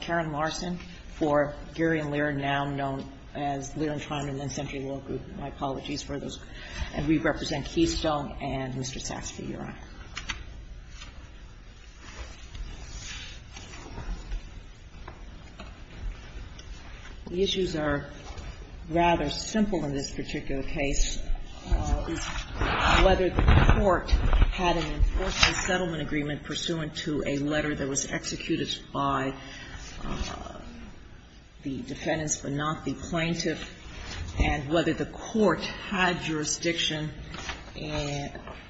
Karen Larson for Gary and Lear, now known as Lear and Trine and then Century Law Group. My apologies for those. And we represent Keystone and Mr. Saxby, Your Honor. The issues are rather simple in this particular case. It's whether the court had an enforceable settlement agreement pursuant to a letter that was executed by the defendants but not the plaintiff, and whether the court had jurisdiction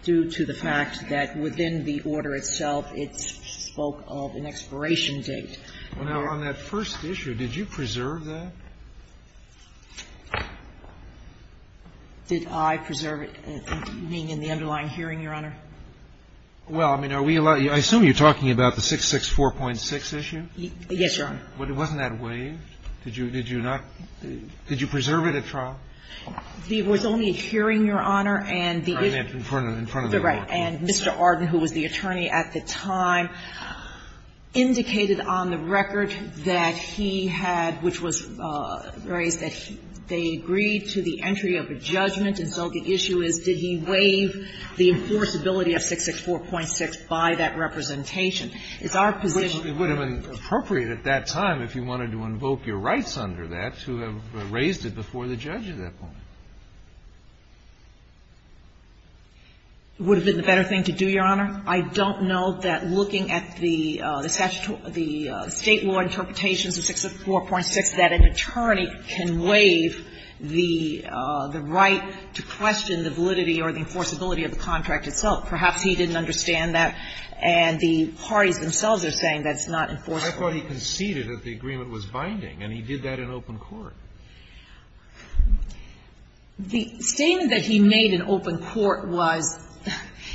due to the fact that within the order itself it spoke of an expiration date. Well, now, on that first issue, did you preserve that? Did I preserve it, meaning in the underlying hearing, Your Honor? Well, I mean, are we allowed to – I assume you're talking about the 664.6 issue? Yes, Your Honor. Wasn't that waived? Did you not – did you preserve it at trial? It was only a hearing, Your Honor, and the issue – In front of the court. Right. And Mr. Arden, who was the attorney at the time, indicated on the record that he had – which was raised that they agreed to the entry of a judgment, and so the issue is did he waive the enforceability of 664.6 by that representation. It's our position – Which would have been appropriate at that time if you wanted to invoke your rights under that to have raised it before the judge at that point. Would have been the better thing to do, Your Honor? I don't know that looking at the statutory – the State law interpretations of 664.6 that an attorney can waive the right to question the validity or the enforceability of the contract itself. Perhaps he didn't understand that, and the parties themselves are saying that it's not enforceable. I thought he conceded that the agreement was binding, and he did that in open court. The statement that he made in open court was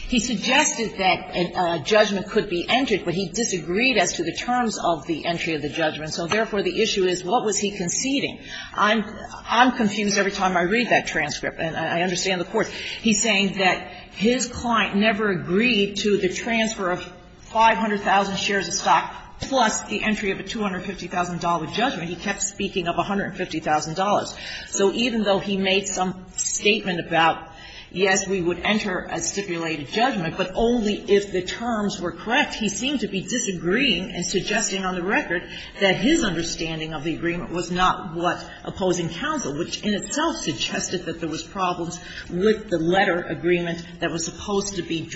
he suggested that a judgment could be entered, but he disagreed as to the terms of the entry of the judgment, so therefore the issue is what was he conceding. I'm confused every time I read that transcript, and I understand the court. He's saying that his client never agreed to the transfer of 500,000 shares of stock plus the entry of a $250,000 judgment. He kept speaking of $150,000. So even though he made some statement about, yes, we would enter a stipulated judgment, but only if the terms were correct, he seemed to be disagreeing and suggesting on the record that his understanding of the agreement was not what opposing counsel, which in itself suggested that there was problems with the letter agreement that was supposed to be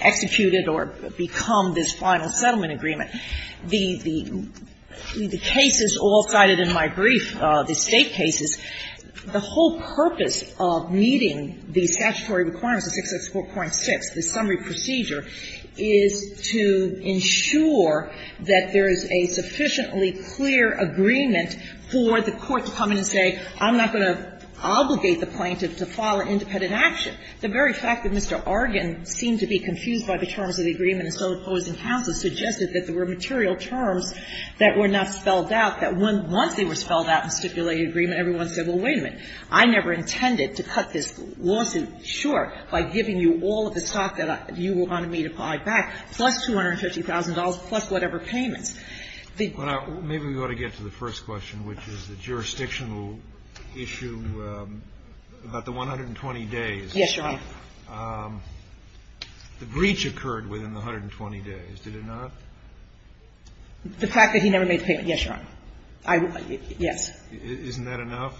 executed or become this final settlement agreement. The cases all cited in my brief, the State cases, the whole purpose of meeting the statutory requirements of 664.6, the summary procedure, is to ensure that there is a sufficiently clear agreement for the court to come in and say, I'm not going to obligate the plaintiff to file an independent action. The very fact that Mr. Argan seemed to be confused by the terms of the agreement and still opposing counsel suggested that there were material terms that were not spelled out, that once they were spelled out in stipulated agreement, everyone said, well, wait a minute, I never intended to cut this lawsuit short by giving you all of the stock that you wanted me to buy back, plus $250,000, plus whatever payments. The ---- Kennedy. Maybe we ought to get to the first question, which is the jurisdictional issue about the 120 days. Yes, Your Honor. The breach occurred within the 120 days, did it not? The fact that he never made the payment, yes, Your Honor. Yes. Isn't that enough?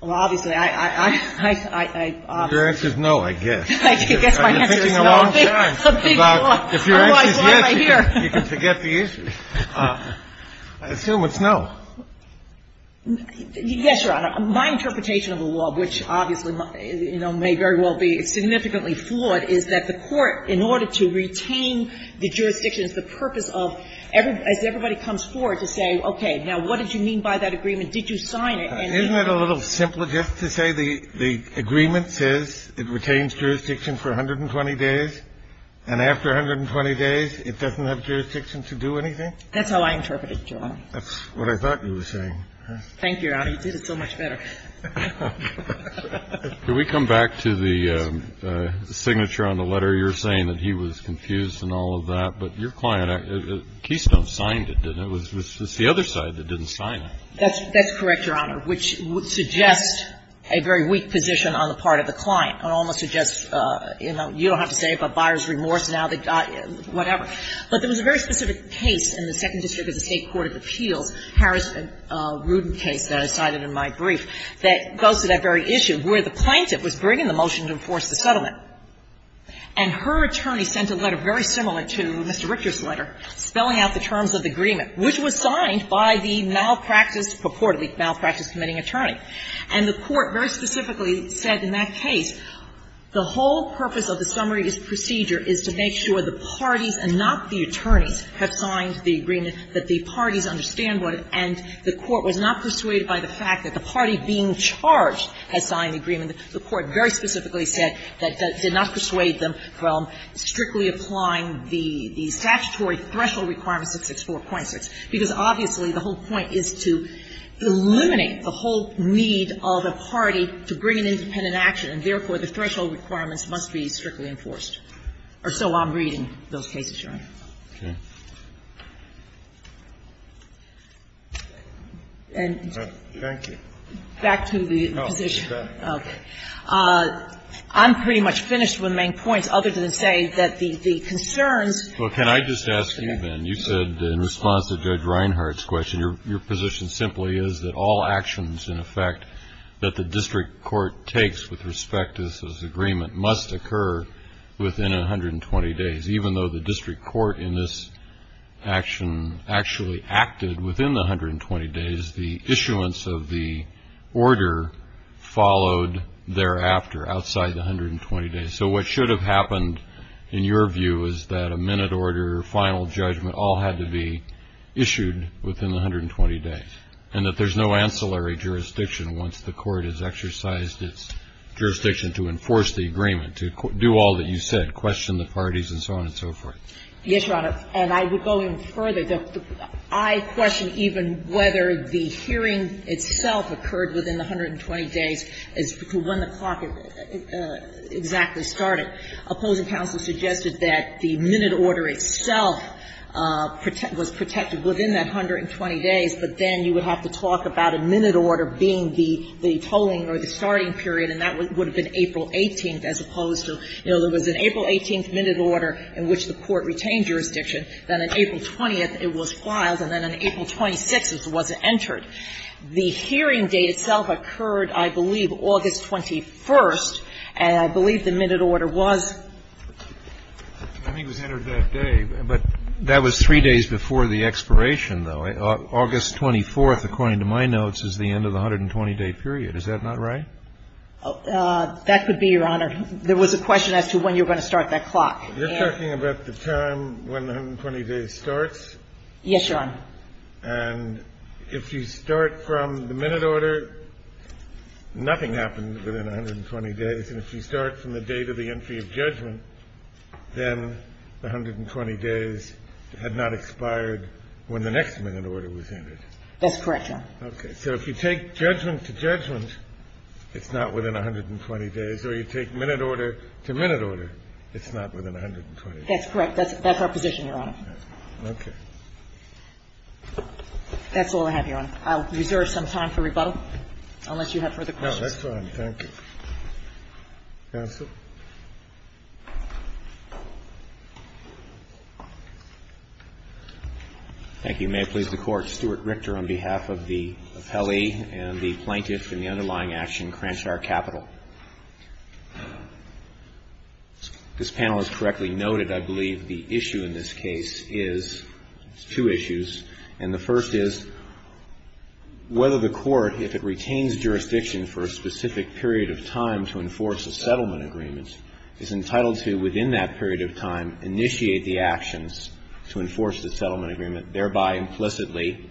Well, obviously, I ---- Your answer is no, I guess. I guess my answer is no. I've been thinking a long time about if your answer is yes, you can forget the issue. I assume it's no. Yes, Your Honor. My interpretation of the law, which obviously, you know, may very well be significantly flawed, is that the Court, in order to retain the jurisdiction, the purpose of every ---- as everybody comes forward to say, okay, now, what did you mean by that agreement? Did you sign it? Isn't it a little simpler just to say the agreement says it retains jurisdiction for 120 days, and after 120 days, it doesn't have jurisdiction to do anything? That's how I interpret it, Your Honor. That's what I thought you were saying. Thank you, Your Honor. You did it so much better. Can we come back to the signature on the letter? You're saying that he was confused and all of that, but your client, Keystone signed it, didn't he? It was the other side that didn't sign it. That's correct, Your Honor, which suggests a very weak position on the part of the buyer's remorse, whatever. But there was a very specific case in the Second District of the State Court of Appeals, Harris and Rudin case that I cited in my brief, that goes to that very issue where the plaintiff was bringing the motion to enforce the settlement. And her attorney sent a letter very similar to Mr. Richter's letter, spelling out the terms of the agreement, which was signed by the malpractice, purportedly malpractice-committing attorney. And the Court very specifically said in that case, the whole purpose of the summary procedure is to make sure the parties and not the attorneys have signed the agreement, that the parties understand what it is. And the Court was not persuaded by the fact that the party being charged had signed the agreement. The Court very specifically said that that did not persuade them from strictly applying the statutory threshold requirements of 664.6, because obviously the whole point is to eliminate the whole need of a party to bring an independent action. And therefore, the threshold requirements must be strictly enforced. Or so I'm reading those cases, Your Honor. Kennedy. Thank you. Back to the position. Okay. I'm pretty much finished with my points, other than to say that the concerns Well, can I just ask you, Ben, you said in response to Judge Reinhart's question, your position simply is that all actions, in effect, that the district court takes with respect to this agreement must occur within 120 days. Even though the district court in this action actually acted within the 120 days, the issuance of the order followed thereafter, outside the 120 days. So what should have happened, in your view, is that a minute order, final judgment, all had to be issued within the 120 days, and that there's no ancillary jurisdiction once the Court has exercised its jurisdiction to enforce the agreement, to do all that you said, question the parties and so on and so forth. Yes, Your Honor. And I would go even further. I question even whether the hearing itself occurred within the 120 days, as to when the clock exactly started. Opposing counsel suggested that the minute order itself was protected within that 120 days, but then you would have to talk about a minute order being the tolling or the starting period, and that would have been April 18th, as opposed to, you know, there was an April 18th minute order in which the Court retained jurisdiction, then on April 20th it was filed, and then on April 26th it wasn't entered. The hearing date itself occurred, I believe, August 21st, and I believe the minute order was? I think it was entered that day. But that was three days before the expiration, though. August 24th, according to my notes, is the end of the 120-day period. Is that not right? That could be, Your Honor. There was a question as to when you were going to start that clock. You're talking about the time when the 120 days starts? Yes, Your Honor. And if you start from the minute order, nothing happened within 120 days. And if you start from the date of the entry of judgment, then the 120 days had not expired when the next minute order was entered. That's correct, Your Honor. Okay. So if you take judgment to judgment, it's not within 120 days. Or you take minute order to minute order, it's not within 120 days. That's correct. That's our position, Your Honor. Okay. That's all I have, Your Honor. I'll reserve some time for rebuttal unless you have further questions. No, that's fine. Thank you. Counsel? Thank you. May it please the Court. Stuart Richter on behalf of the appellee and the plaintiff in the underlying action, Cranshaw Capital. This panel has correctly noted, I believe, the issue in this case is two issues. And the first is whether the court, if it retains jurisdiction for a specific period of time to enforce a settlement agreement, is entitled to, within that period of time, initiate the actions to enforce the settlement agreement, thereby implicitly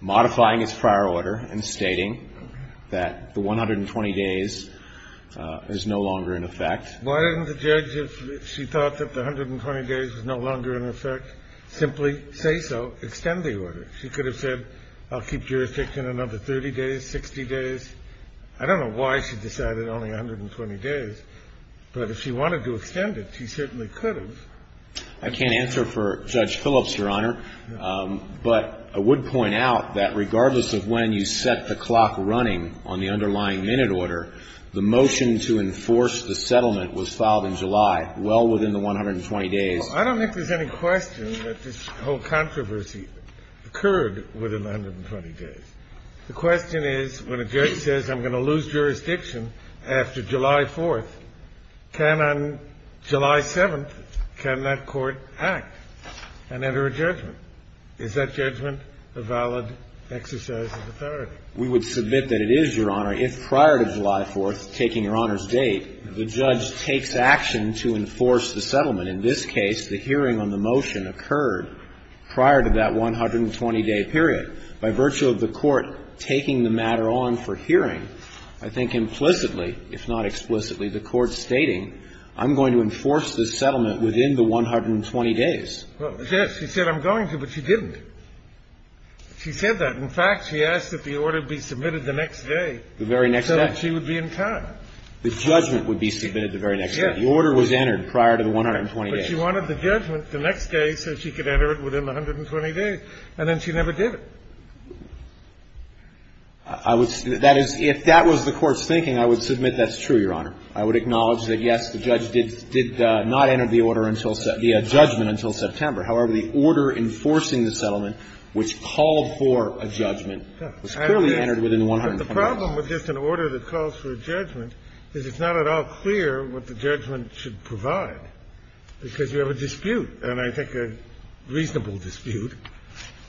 modifying its prior order and stating that the 120 days is no longer in effect. Why didn't the judge, if she thought that the 120 days was no longer in effect, simply say so, extend the order? She could have said, I'll keep jurisdiction another 30 days, 60 days. I don't know why she decided only 120 days. But if she wanted to extend it, she certainly could have. I can't answer for Judge Phillips, Your Honor. But I would point out that regardless of when you set the clock running on the underlying minute order, the motion to enforce the settlement was filed in July, well within the 120 days. I don't think there's any question that this whole controversy occurred within the 120 days. The question is, when a judge says, I'm going to lose jurisdiction after July 4th, can on July 7th, can that court act and enter a judgment? Is that judgment a valid exercise of authority? We would submit that it is, Your Honor, if prior to July 4th, taking Your Honor's date, the judge takes action to enforce the settlement. In this case, the hearing on the motion occurred prior to that 120-day period. By virtue of the court taking the matter on for hearing, I think implicitly, if not explicitly, the court stating, I'm going to enforce the settlement within the 120 days. Well, yes, she said, I'm going to, but she didn't. She said that. In fact, she asked that the order be submitted the next day. The very next day. So that she would be in time. The judgment would be submitted the very next day. Yes. The order was entered prior to the 120 days. But she wanted the judgment the next day so she could enter it within the 120 days. And then she never did it. That is, if that was the court's thinking, I would submit that's true, Your Honor. I would acknowledge that, yes, the judge did not enter the order until the judgment until September. However, the order enforcing the settlement, which called for a judgment, was clearly entered within the 120 days. But the problem with just an order that calls for a judgment is it's not at all clear what the judgment should provide, because you have a dispute, and I think a reasonable dispute,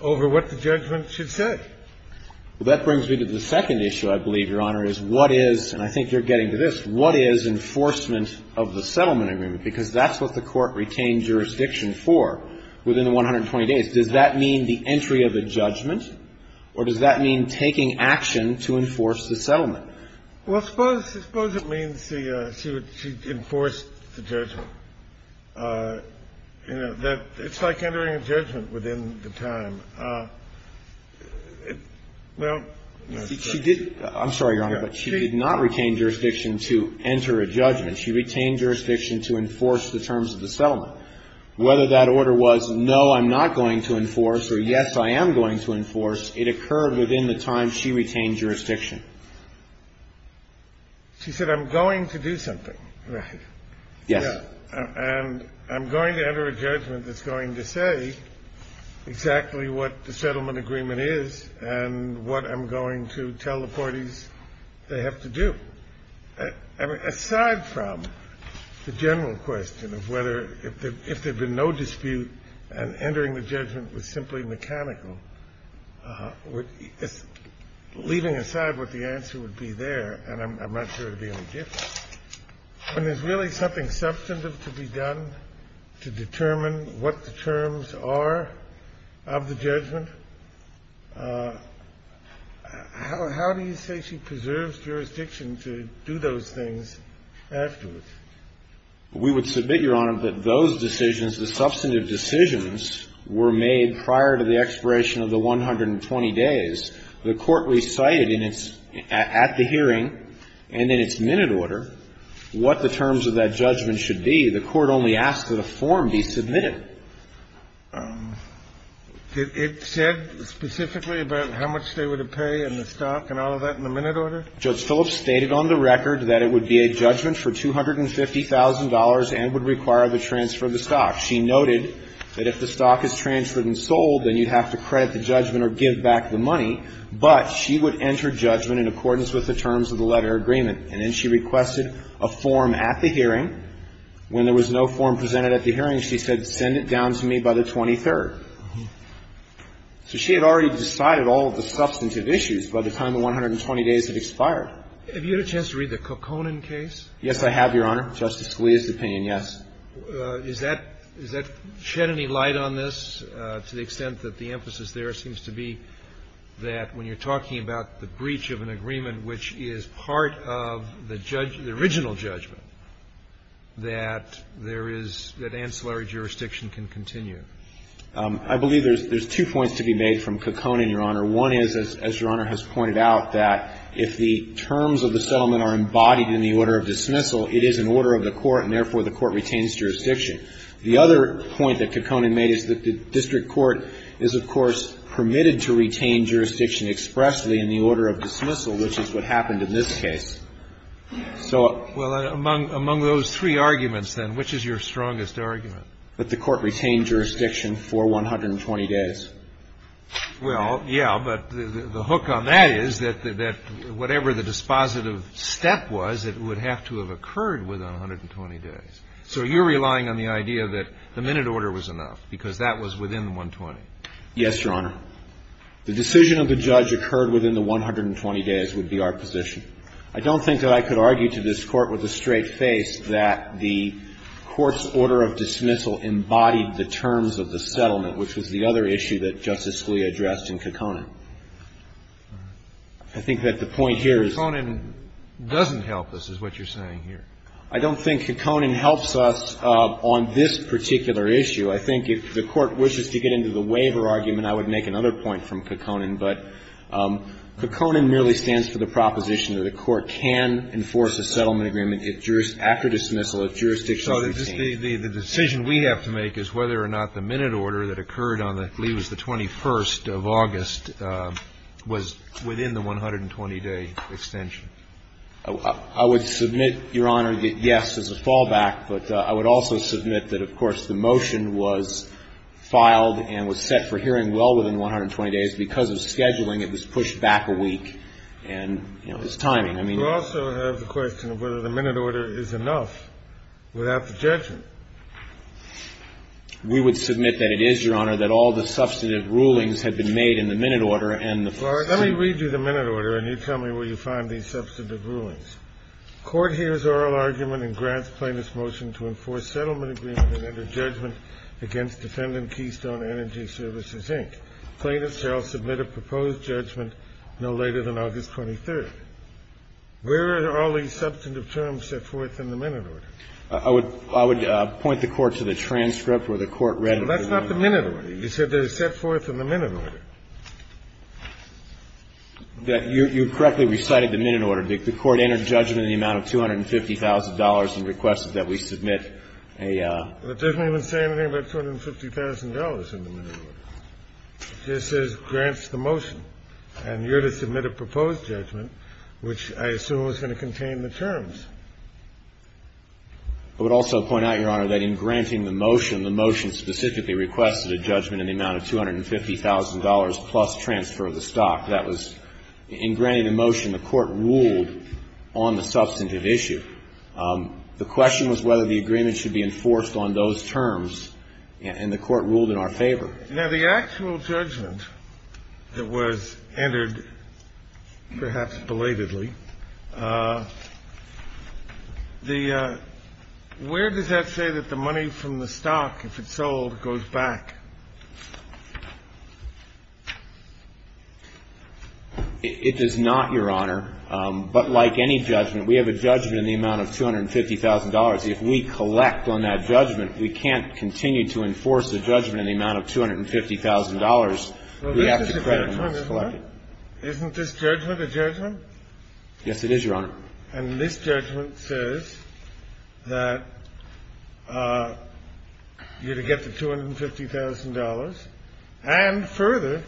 over what the judgment should say. Well, that brings me to the second issue, I believe, Your Honor, is what is, and I think you're getting to this, what is enforcement of the settlement agreement, because that's what the court retained jurisdiction for within the 120 days. Does that mean the entry of a judgment, or does that mean taking action to enforce the settlement? Well, suppose it means she enforced the judgment. It's like entering a judgment within the time. Well, no. She did. I'm sorry, Your Honor, but she did not retain jurisdiction to enter a judgment. She retained jurisdiction to enforce the terms of the settlement. Whether that order was, no, I'm not going to enforce, or, yes, I am going to enforce, it occurred within the time she retained jurisdiction. She said, I'm going to do something. Right. Yes. And I'm going to enter a judgment that's going to say exactly what the settlement agreement is and what I'm going to tell the parties they have to do. Aside from the general question of whether, if there had been no dispute and entering the judgment was simply mechanical, leaving aside what the answer would be there, and I'm not sure it would be any different. When there's really something substantive to be done to determine what the terms are of the judgment, how do you say she preserves jurisdiction to do those things afterwards? We would submit, Your Honor, that those decisions, the substantive decisions, were made prior to the expiration of the 120 days. The court recited in its at the hearing and in its minute order what the terms of that judgment should be. The court only asked that a form be submitted. It said specifically about how much they were to pay and the stock and all of that in the minute order? Judge Phillips stated on the record that it would be a judgment for $250,000 and would require the transfer of the stock. She noted that if the stock is transferred and sold, then you'd have to credit the judgment or give back the money, but she would enter judgment in accordance with the terms of the letter agreement. And then she requested a form at the hearing. When there was no form presented at the hearing, she said, send it down to me by the 23rd. So she had already decided all of the substantive issues by the time the 120 days had expired. Have you had a chance to read the Kokkonen case? Yes, I have, Your Honor. Justice Scalia's opinion, yes. Is that shed any light on this to the extent that the emphasis there seems to be that when you're talking about the breach of an agreement, which is part of the original judgment, that there is, that ancillary jurisdiction can continue? I believe there's two points to be made from Kokkonen, Your Honor. One is, as Your Honor has pointed out, that if the terms of the settlement are embodied in the order of dismissal, it is an order of the court, and therefore the court retains jurisdiction. The other point that Kokkonen made is that the district court is, of course, permitted to retain jurisdiction expressly in the order of dismissal, which is what happened in this case. So ---- Well, among those three arguments, then, which is your strongest argument? That the court retained jurisdiction for 120 days. Well, yeah, but the hook on that is that whatever the dispositive step was, it would have to have occurred within 120 days. So you're relying on the idea that the minute order was enough because that was within the 120. Yes, Your Honor. The decision of the judge occurred within the 120 days would be our position. I don't think that I could argue to this Court with a straight face that the court's terms of the settlement, which was the other issue that Justice Scalia addressed in Kokkonen. I think that the point here is ---- Kokkonen doesn't help us, is what you're saying here. I don't think Kokkonen helps us on this particular issue. I think if the Court wishes to get into the waiver argument, I would make another point from Kokkonen. But Kokkonen merely stands for the proposition that a court can enforce a settlement agreement after dismissal if jurisdiction is retained. So the decision we have to make is whether or not the minute order that occurred on, I believe it was the 21st of August, was within the 120-day extension. I would submit, Your Honor, that, yes, there's a fallback. But I would also submit that, of course, the motion was filed and was set for hearing well within 120 days. Because of scheduling, it was pushed back a week. And, you know, it's timing. I mean ---- You also have the question of whether the minute order is enough without the judgment. We would submit that it is, Your Honor, that all the substantive rulings had been made in the minute order and the first ---- All right. Let me read you the minute order, and you tell me where you find these substantive rulings. Court hears oral argument and grants plaintiff's motion to enforce settlement agreement and enter judgment against defendant Keystone Energy Services, Inc. Plaintiff shall submit a proposed judgment no later than August 23rd. Where are all these substantive terms set forth in the minute order? I would point the Court to the transcript where the Court read it. That's not the minute order. You said they're set forth in the minute order. You correctly recited the minute order. The Court entered judgment in the amount of $250,000 and requested that we submit a ---- It doesn't even say anything about $250,000 in the minute order. It just says grants the motion. And you're to submit a proposed judgment, which I assume is going to contain the terms. I would also point out, Your Honor, that in granting the motion, the motion specifically requested a judgment in the amount of $250,000 plus transfer of the stock. That was, in granting the motion, the Court ruled on the substantive issue. The question was whether the agreement should be enforced on those terms, and the Court ruled in our favor. Now, the actual judgment that was entered, perhaps belatedly, the ---- where does that say that the money from the stock, if it's sold, goes back? It does not, Your Honor. But like any judgment, we have a judgment in the amount of $250,000. If we collect on that judgment, we can't continue to enforce a judgment in the amount of $250,000. We have to credit when it's collected. Isn't this judgment a judgment? Yes, it is, Your Honor. And this judgment says that you're to get the $250,000, and further,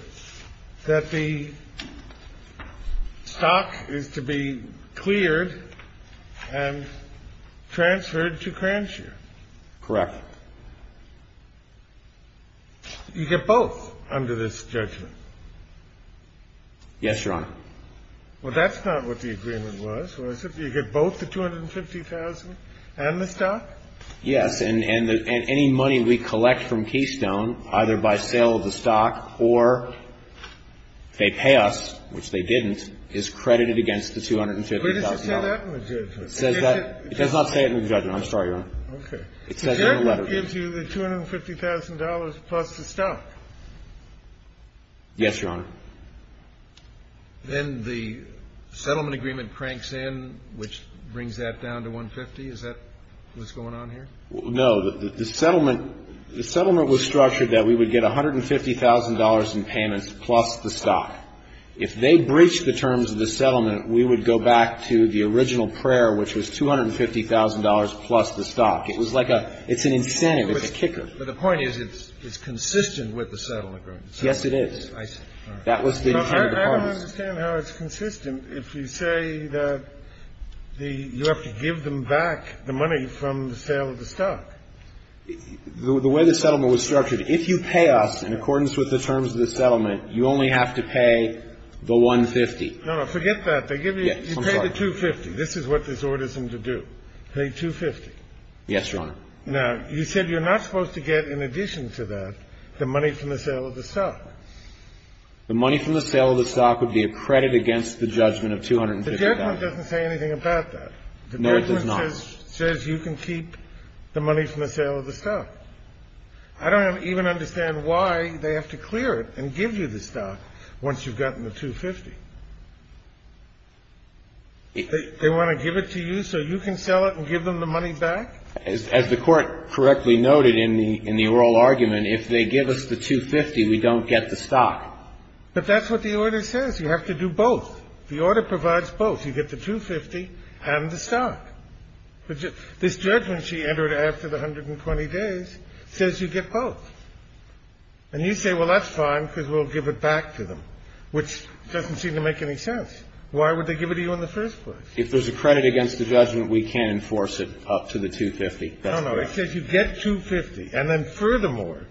that the stock is to be cleared and transferred to Cranshire. Correct. You get both under this judgment. Yes, Your Honor. Well, that's not what the agreement was, was it? You get both the $250,000 and the stock? Yes. And any money we collect from Keystone, either by sale of the stock or they pay us, which they didn't, is credited against the $250,000. Where does it say that in the judgment? It says that ---- it does not say it in the judgment. I'm sorry, Your Honor. Okay. It says it in the letter. The judgment gives you the $250,000 plus the stock? Yes, Your Honor. Then the settlement agreement cranks in, which brings that down to $150,000. Is that what's going on here? No. The settlement was structured that we would get $150,000 in payments plus the stock if they breached the terms of the settlement, we would go back to the original prayer, which was $250,000 plus the stock. It was like a ---- it's an incentive. It's a kicker. But the point is it's consistent with the settlement agreement. Yes, it is. I see. That was the intent of the parties. But I don't understand how it's consistent if you say that the ---- you have to give them back the money from the sale of the stock. The way the settlement was structured, if you pay us in accordance with the terms of the settlement, you only have to pay the $150,000. No, no. Forget that. You pay the $250,000. This is what this orders them to do. Pay $250,000. Yes, Your Honor. Now, you said you're not supposed to get in addition to that the money from the sale of the stock. The money from the sale of the stock would be a credit against the judgment of $250,000. The judgment doesn't say anything about that. No, it does not. The judgment says you can keep the money from the sale of the stock. I don't even understand why they have to clear it and give you the stock once you've gotten the $250,000. They want to give it to you so you can sell it and give them the money back? As the Court correctly noted in the oral argument, if they give us the $250,000, we don't get the stock. But that's what the order says. You have to do both. You get the $250,000 and the stock. This judgment she entered after the 120 days says you get both. And you say, well, that's fine because we'll give it back to them, which doesn't seem to make any sense. Why would they give it to you in the first place? If there's a credit against the judgment, we can enforce it up to the $250,000. No, no. It says you get $250,000, and then furthermore,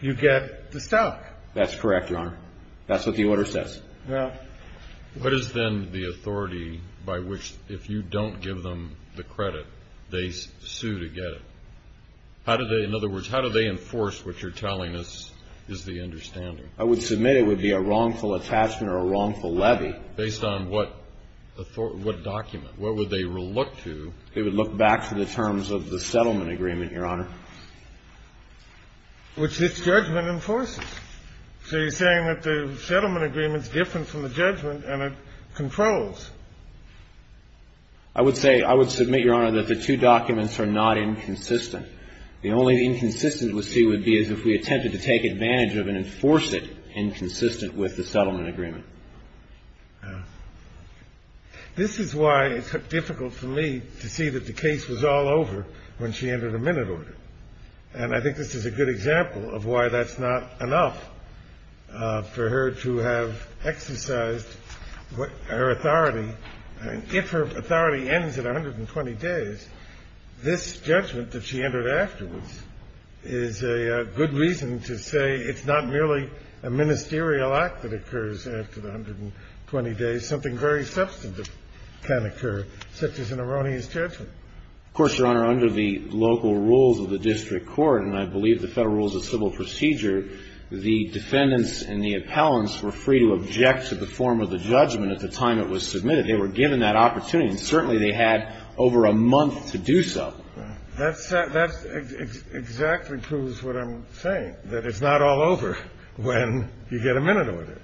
you get the stock. That's correct, Your Honor. That's what the order says. Now, what is then the authority by which, if you don't give them the credit, they sue to get it? How do they, in other words, how do they enforce what you're telling us is the understanding? I would submit it would be a wrongful attachment or a wrongful levy. Based on what document? What would they reluct to? They would look back to the terms of the settlement agreement, Your Honor. Which this judgment enforces. So you're saying that the settlement agreement is different from the judgment, and it controls. I would say, I would submit, Your Honor, that the two documents are not inconsistent. The only inconsistent we see would be as if we attempted to take advantage of and enforce it inconsistent with the settlement agreement. This is why it's difficult for me to see that the case was all over when she entered a minute order. And I think this is a good example of why that's not enough for her to have exercised her authority. If her authority ends at 120 days, this judgment that she entered afterwards is a good reason to say it's not merely a ministerial act that occurs after the 120 days. Something very substantive can occur, such as an erroneous judgment. Of course, Your Honor, under the local rules of the district court, and I believe the Federal Rules of Civil Procedure, the defendants and the appellants were free to object to the form of the judgment at the time it was submitted. They were given that opportunity. And certainly they had over a month to do so. That's exactly proves what I'm saying, that it's not all over when you get a minute order.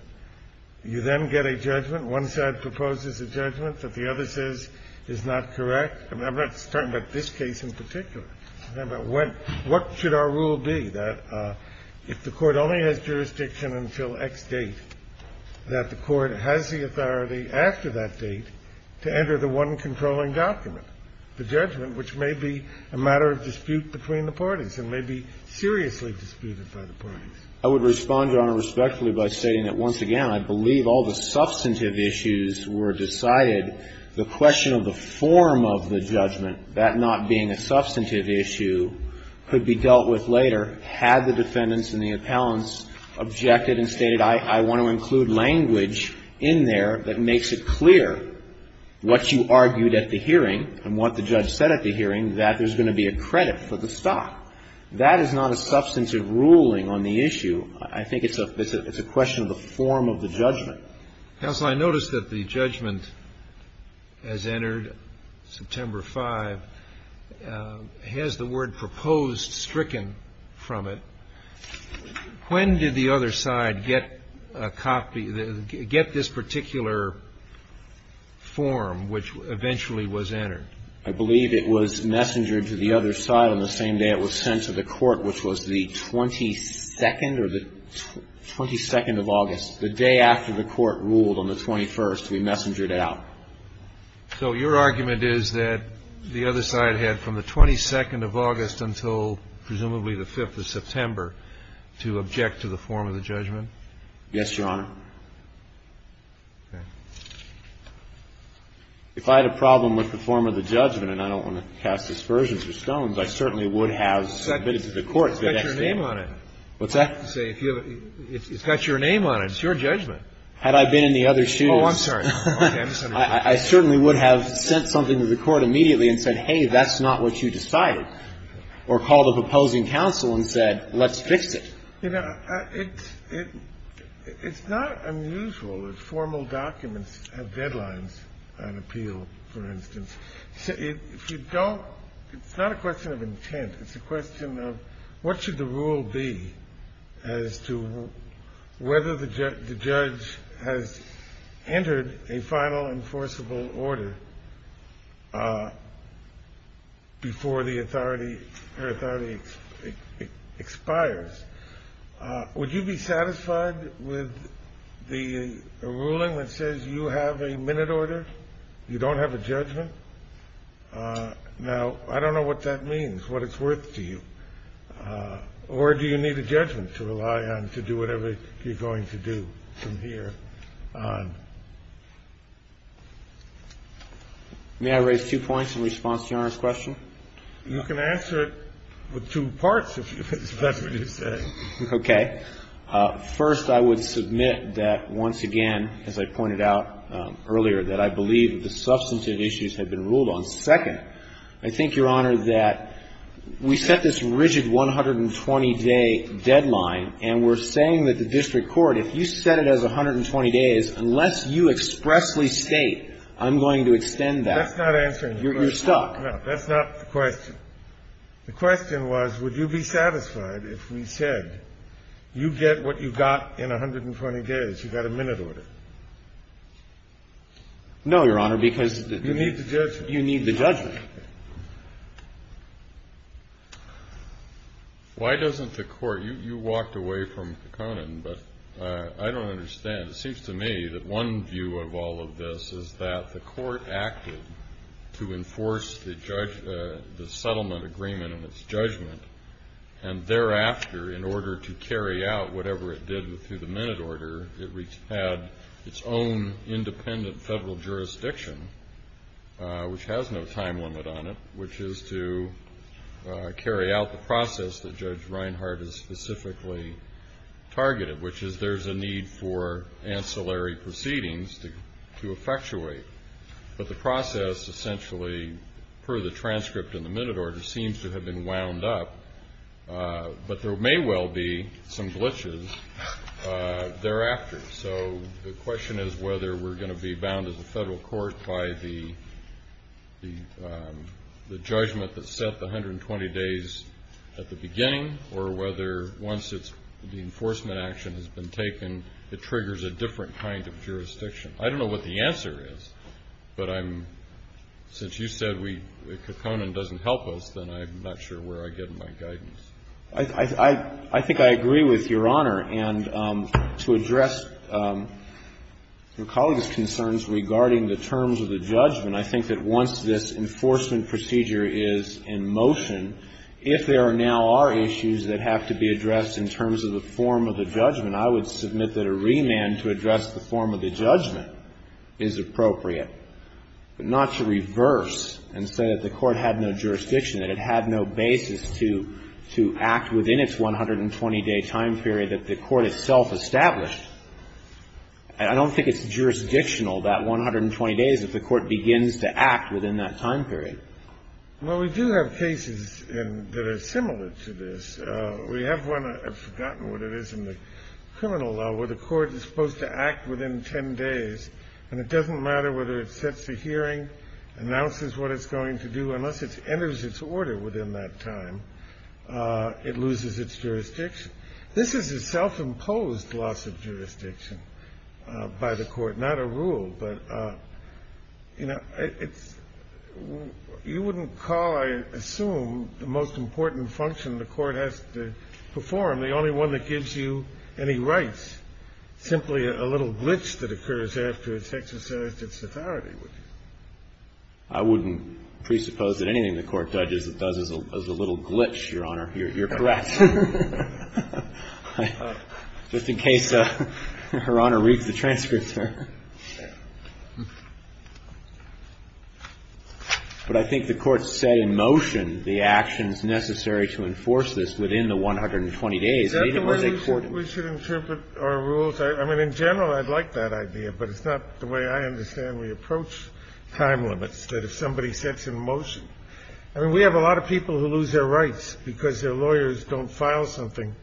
You then get a judgment. One side proposes a judgment that the other says is not correct. I'm not talking about this case in particular. I'm talking about what should our rule be, that if the Court only has jurisdiction until X date, that the Court has the authority after that date to enter the one controlling document, the judgment, which may be a matter of dispute between the parties and may be seriously disputed by the parties. I would respond, Your Honor, respectfully by stating that, once again, I believe all the substantive issues were decided. The question of the form of the judgment, that not being a substantive issue, could be dealt with later had the defendants and the appellants objected and stated, I want to include language in there that makes it clear what you argued at the hearing and what the judge said at the hearing, that there's going to be a credit for the stock. That is not a substantive ruling on the issue. I think it's a question of the form of the judgment. Counsel, I notice that the judgment has entered September 5. Has the word proposed stricken from it? When did the other side get a copy, get this particular form, which eventually was entered? I believe it was messengered to the other side on the same day it was sent to the court, which was the 22nd or the 22nd of August. The day after the court ruled on the 21st, we messengered out. So your argument is that the other side had from the 22nd of August until presumably the 5th of September to object to the form of the judgment? Yes, Your Honor. If I had a problem with the form of the judgment and I don't want to cast aspersions or stones, I certainly would have submitted to the court. It's got your name on it. What's that? It's got your name on it. It's your judgment. Had I been in the other shoes, I certainly would have sent something to the court immediately and said, hey, that's not what you decided, or called a proposing counsel and said, let's fix it. You know, it's not unusual that formal documents have deadlines on appeal, for instance. If you don't, it's not a question of intent. It's a question of what should the rule be as to whether the judge has entered a final enforceable order before her authority expires. Would you be satisfied with a ruling that says you have a minute order? You don't have a judgment? Now, I don't know what that means, what it's worth to you. Or do you need a judgment to rely on to do whatever you're going to do from here on? May I raise two points in response to Your Honor's question? You can answer it with two parts, if that's what you say. Okay. First, I would submit that, once again, as I pointed out earlier, that I believe that the substantive issues have been ruled on. Second, I think, Your Honor, that we set this rigid 120-day deadline, and we're saying that the district court, if you set it as 120 days, unless you expressly state, I'm going to extend that, you're stuck. That's not answering your question. No, that's not the question. The question was, would you be satisfied if we said you get what you got in 120 days, you got a minute order? No, Your Honor, because the judgment. But you need the judgment. Why doesn't the court? You walked away from Kekkonen, but I don't understand. It seems to me that one view of all of this is that the court acted to enforce the judgment, the settlement agreement and its judgment, and thereafter, in order to carry out whatever it did through the minute order, it had its own independent federal jurisdiction, which has no time limit on it, which is to carry out the process that Judge Reinhart has specifically targeted, which is there's a need for ancillary proceedings to effectuate. But the process, essentially, per the transcript in the minute order, seems to have been wound up. But there may well be some glitches thereafter. So the question is whether we're going to be bound as a Federal court by the judgment that set the 120 days at the beginning, or whether once the enforcement action has been taken, it triggers a different kind of jurisdiction. I don't know what the answer is, but I'm — since you said Kekkonen doesn't help us, then I'm not sure where I get my guidance. I think I agree with Your Honor, and to address your colleague's concerns regarding the terms of the judgment, I think that once this enforcement procedure is in motion, if there now are issues that have to be addressed in terms of the form of the judgment, I would submit that a remand to address the form of the judgment is appropriate, but not to reverse and say that the Court had no jurisdiction, that it had no basis to act within its 120-day time period that the Court itself established. And I don't think it's jurisdictional, that 120 days, if the Court begins to act within that time period. Well, we do have cases that are similar to this. We have one, I've forgotten what it is, in the criminal law where the Court is supposed to act within 10 days, and it doesn't matter whether it sets a hearing, announces what it's going to do, unless it enters its order within that time, it loses its jurisdiction. This is a self-imposed loss of jurisdiction by the Court, not a rule, but, you know, it's — you wouldn't call, I assume, the most important function the Court has to perform, the only one that gives you any rights, simply a little glitch that occurs after it's exercised its authority, would you? I wouldn't presuppose that anything the Court judges it does is a little glitch, Your Honor. You're correct. Just in case Her Honor reads the transcript, sir. But I think the Court set in motion the actions necessary to enforce this within the Is that the way we should interpret our rules? I mean, in general, I'd like that idea, but it's not the way I understand we approach time limits, that if somebody sets in motion — I mean, we have a lot of people who lose their rights because their lawyers don't file something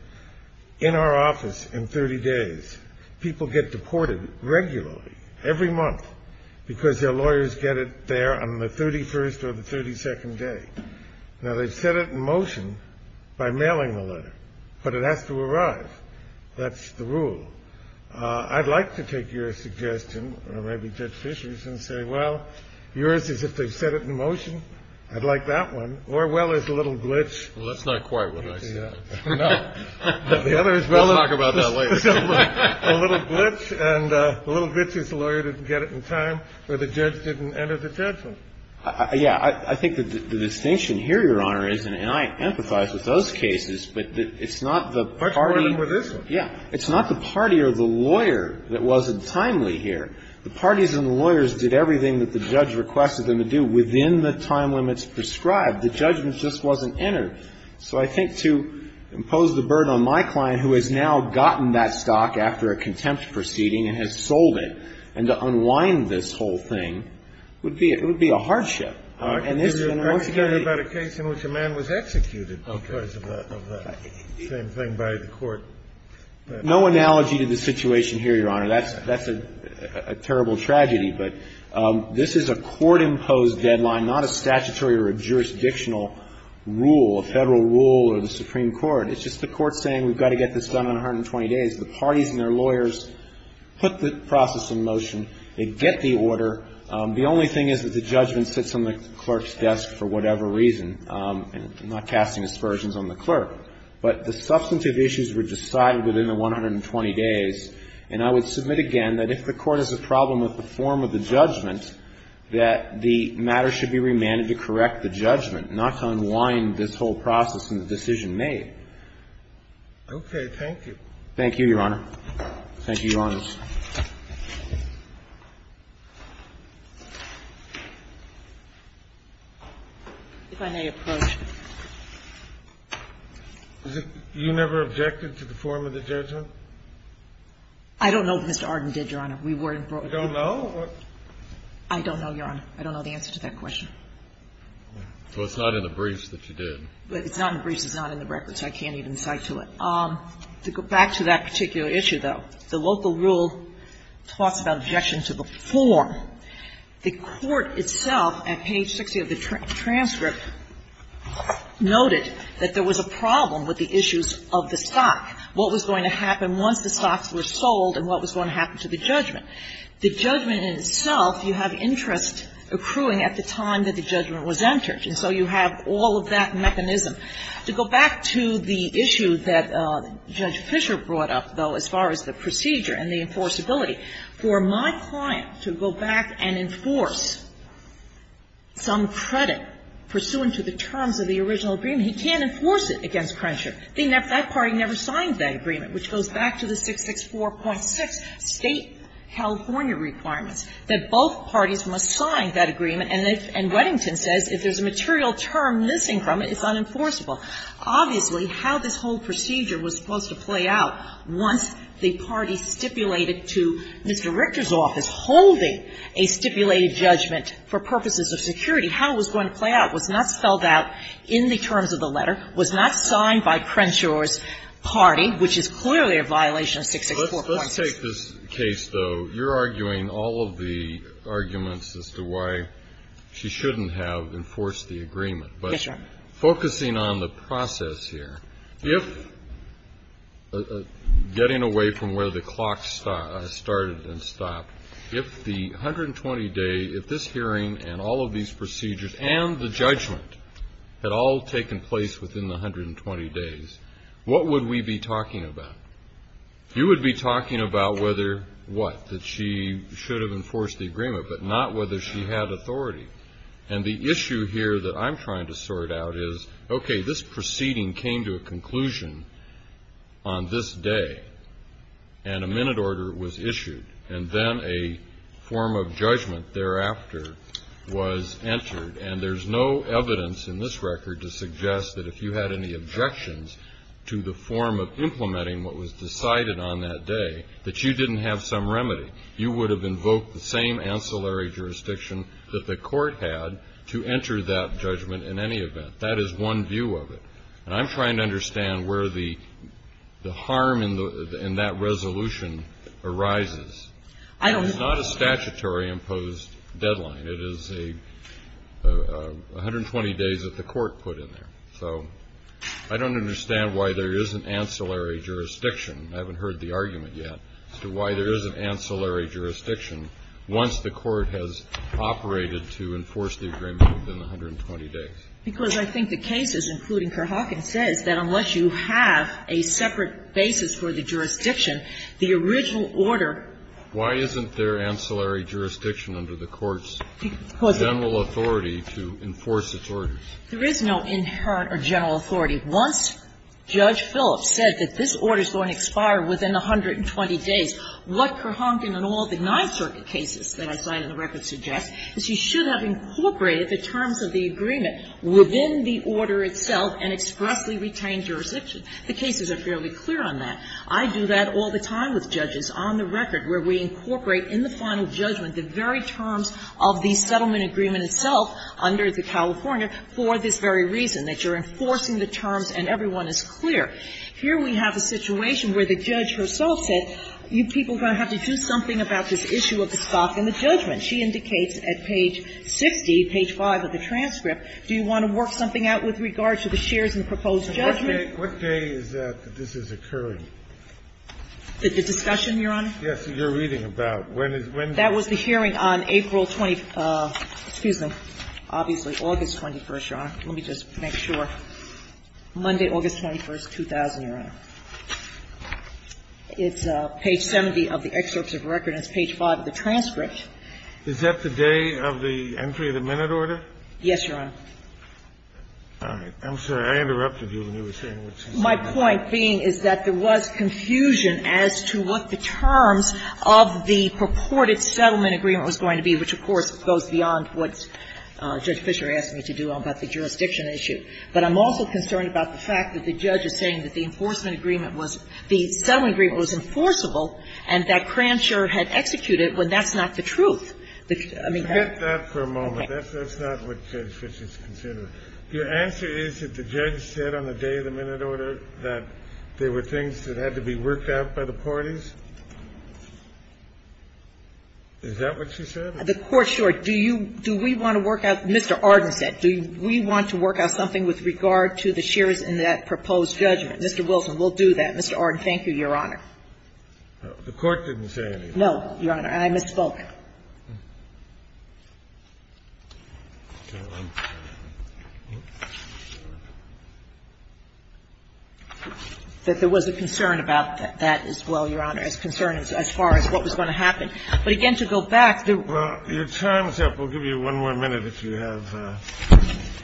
in our office in 30 days. People get deported regularly, every month, because their lawyers get it there on the 31st or the 32nd day. Now, they've set it in motion by mailing the letter, but it has to arrive. That's the rule. I'd like to take your suggestion, or maybe Judge Fisher's, and say, well, yours is if they've set it in motion. I'd like that one. Or, well, there's a little glitch. Well, that's not quite what I said. No. We'll talk about that later. A little glitch, and a little glitch is the lawyer didn't get it in time, or the judge didn't enter the judgment. Yeah. I think the distinction here, Your Honor, is, and I empathize with those cases, but it's not the party. Much more than with this one. Yeah. It's not the party or the lawyer that wasn't timely here. The parties and the lawyers did everything that the judge requested them to do within the time limits prescribed. The judgment just wasn't entered. So I think to impose the burden on my client, who has now gotten that stock after a contempt proceeding and has sold it, and to unwind this whole thing, would be a hardship. All right. Because you're talking about a case in which a man was executed because of that. Same thing by the court. No analogy to the situation here, Your Honor. That's a terrible tragedy. But this is a court-imposed deadline, not a statutory or a jurisdictional rule, a Federal rule or the Supreme Court. It's just the court saying we've got to get this done in 120 days. The parties and their lawyers put the process in motion. They get the order. The only thing is that the judgment sits on the clerk's desk for whatever reason. I'm not casting aspersions on the clerk. But the substantive issues were decided within the 120 days. And I would submit again that if the court has a problem with the form of the judgment, that the matter should be remanded to correct the judgment, not to unwind this whole process and the decision made. Okay. Thank you. Thank you, Your Honor. Thank you, Your Honors. If I may approach. You never objected to the form of the judgment? I don't know if Mr. Arden did, Your Honor. We weren't brought in. You don't know? I don't know, Your Honor. I don't know the answer to that question. So it's not in the briefs that you did. It's not in the briefs. It's not in the records. I can't even cite to it. To go back to that particular issue, though, the local rule talks about objection to the form. The court itself, at page 60 of the transcript, noted that there was a problem with the issues of the stock, what was going to happen once the stocks were sold and what was going to happen to the judgment. The judgment in itself, you have interest accruing at the time that the judgment was entered. And so you have all of that mechanism. To go back to the issue that Judge Fischer brought up, though, as far as the procedure and the enforceability, for my client to go back and enforce some credit pursuant to the terms of the original agreement, he can't enforce it against Crenshaw. That party never signed that agreement, which goes back to the 664.6 State California And Weddington says if there's a material term missing from it, it's unenforceable. Obviously, how this whole procedure was supposed to play out once the party stipulated to Mr. Richter's office, holding a stipulated judgment for purposes of security, how it was going to play out was not spelled out in the terms of the letter, was not signed by Crenshaw's party, which is clearly a violation of 664.6. Well, if you take this case, though, you're arguing all of the arguments as to why she shouldn't have enforced the agreement. Yes, Your Honor. But focusing on the process here, if getting away from where the clock started and stopped, if the 120-day, if this hearing and all of these procedures and the judgment had all taken place within the 120 days, what would we be talking about? You would be talking about whether what? That she should have enforced the agreement, but not whether she had authority. And the issue here that I'm trying to sort out is, okay, this proceeding came to a conclusion on this day, and a minute order was issued, and then a form of judgment thereafter was entered. And there's no evidence in this record to suggest that if you had any objections to the form of implementing what was decided on that day, that you didn't have some remedy. You would have invoked the same ancillary jurisdiction that the Court had to enter that judgment in any event. That is one view of it. And I'm trying to understand where the harm in that resolution arises. It's not a statutory imposed deadline. It is a 120 days that the Court put in there. So I don't understand why there is an ancillary jurisdiction. I haven't heard the argument yet as to why there is an ancillary jurisdiction once the Court has operated to enforce the agreement within 120 days. Because I think the case is, including Kerr-Hawkins, says that unless you have a separate basis for the jurisdiction, the original order --" Why isn't there ancillary jurisdiction under the Court's general authority to enforce its orders? There is no inherent or general authority. Once Judge Phillips said that this order is going to expire within 120 days, what Kerr-Hawkins and all of the Ninth Circuit cases that I cite in the record suggest is you should have incorporated the terms of the agreement within the order itself and expressly retained jurisdiction. The cases are fairly clear on that. I do that all the time with judges on the record, where we incorporate in the final judgment the very terms of the settlement agreement itself under the California for this very reason, that you're enforcing the terms and everyone is clear. Here we have a situation where the judge herself said, you people are going to have to do something about this issue of the stock and the judgment. She indicates at page 60, page 5 of the transcript, do you want to work something out with regard to the shares in the proposed judgment? What day is that that this is occurring? The discussion, Your Honor? Yes, you're reading about. When is when? That was the hearing on April 20th. Excuse me. Obviously, August 21st, Your Honor. Let me just make sure. Monday, August 21st, 2000, Your Honor. It's page 70 of the excerpts of the record and it's page 5 of the transcript. Is that the day of the entry of the minute order? Yes, Your Honor. All right. I'm sorry. I interrupted you when you were saying what you said. My point being is that there was confusion as to what the terms of the purported settlement agreement was going to be, which, of course, goes beyond what Judge Fisher asked me to do about the jurisdiction issue. But I'm also concerned about the fact that the judge is saying that the enforcement agreement was the settlement agreement was enforceable and that Cransher had executed when that's not the truth. I mean, that's. Forget that for a moment. That's not what Judge Fisher is considering. Your answer is that the judge said on the day of the minute order that there were things that had to be worked out by the parties? Is that what she said? The Court, sure. Do you do we want to work out, Mr. Arden said, do we want to work out something with regard to the shares in that proposed judgment? Mr. Wilson, we'll do that. Mr. Arden, thank you, Your Honor. The Court didn't say anything. No, Your Honor, and I misspoke. That there was a concern about that as well, Your Honor, as concerned as far as what was going to happen. But, again, to go back, there were. Well, your time is up. We'll give you one more minute if you have,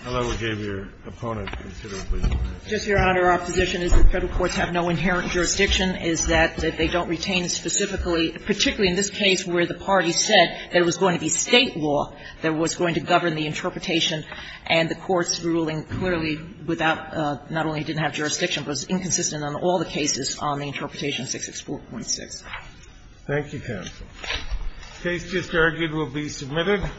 although we gave your opponent considerably more. Just, Your Honor, our position is that Federal courts have no inherent jurisdiction, is that they don't retain specifically, particularly in this case where the parties said there was going to be State law that was going to govern the interpretation. And the Court's ruling clearly without, not only didn't have jurisdiction, but was inconsistent on all the cases on the Interpretation 664.6. Thank you, counsel. The case just argued will be submitted.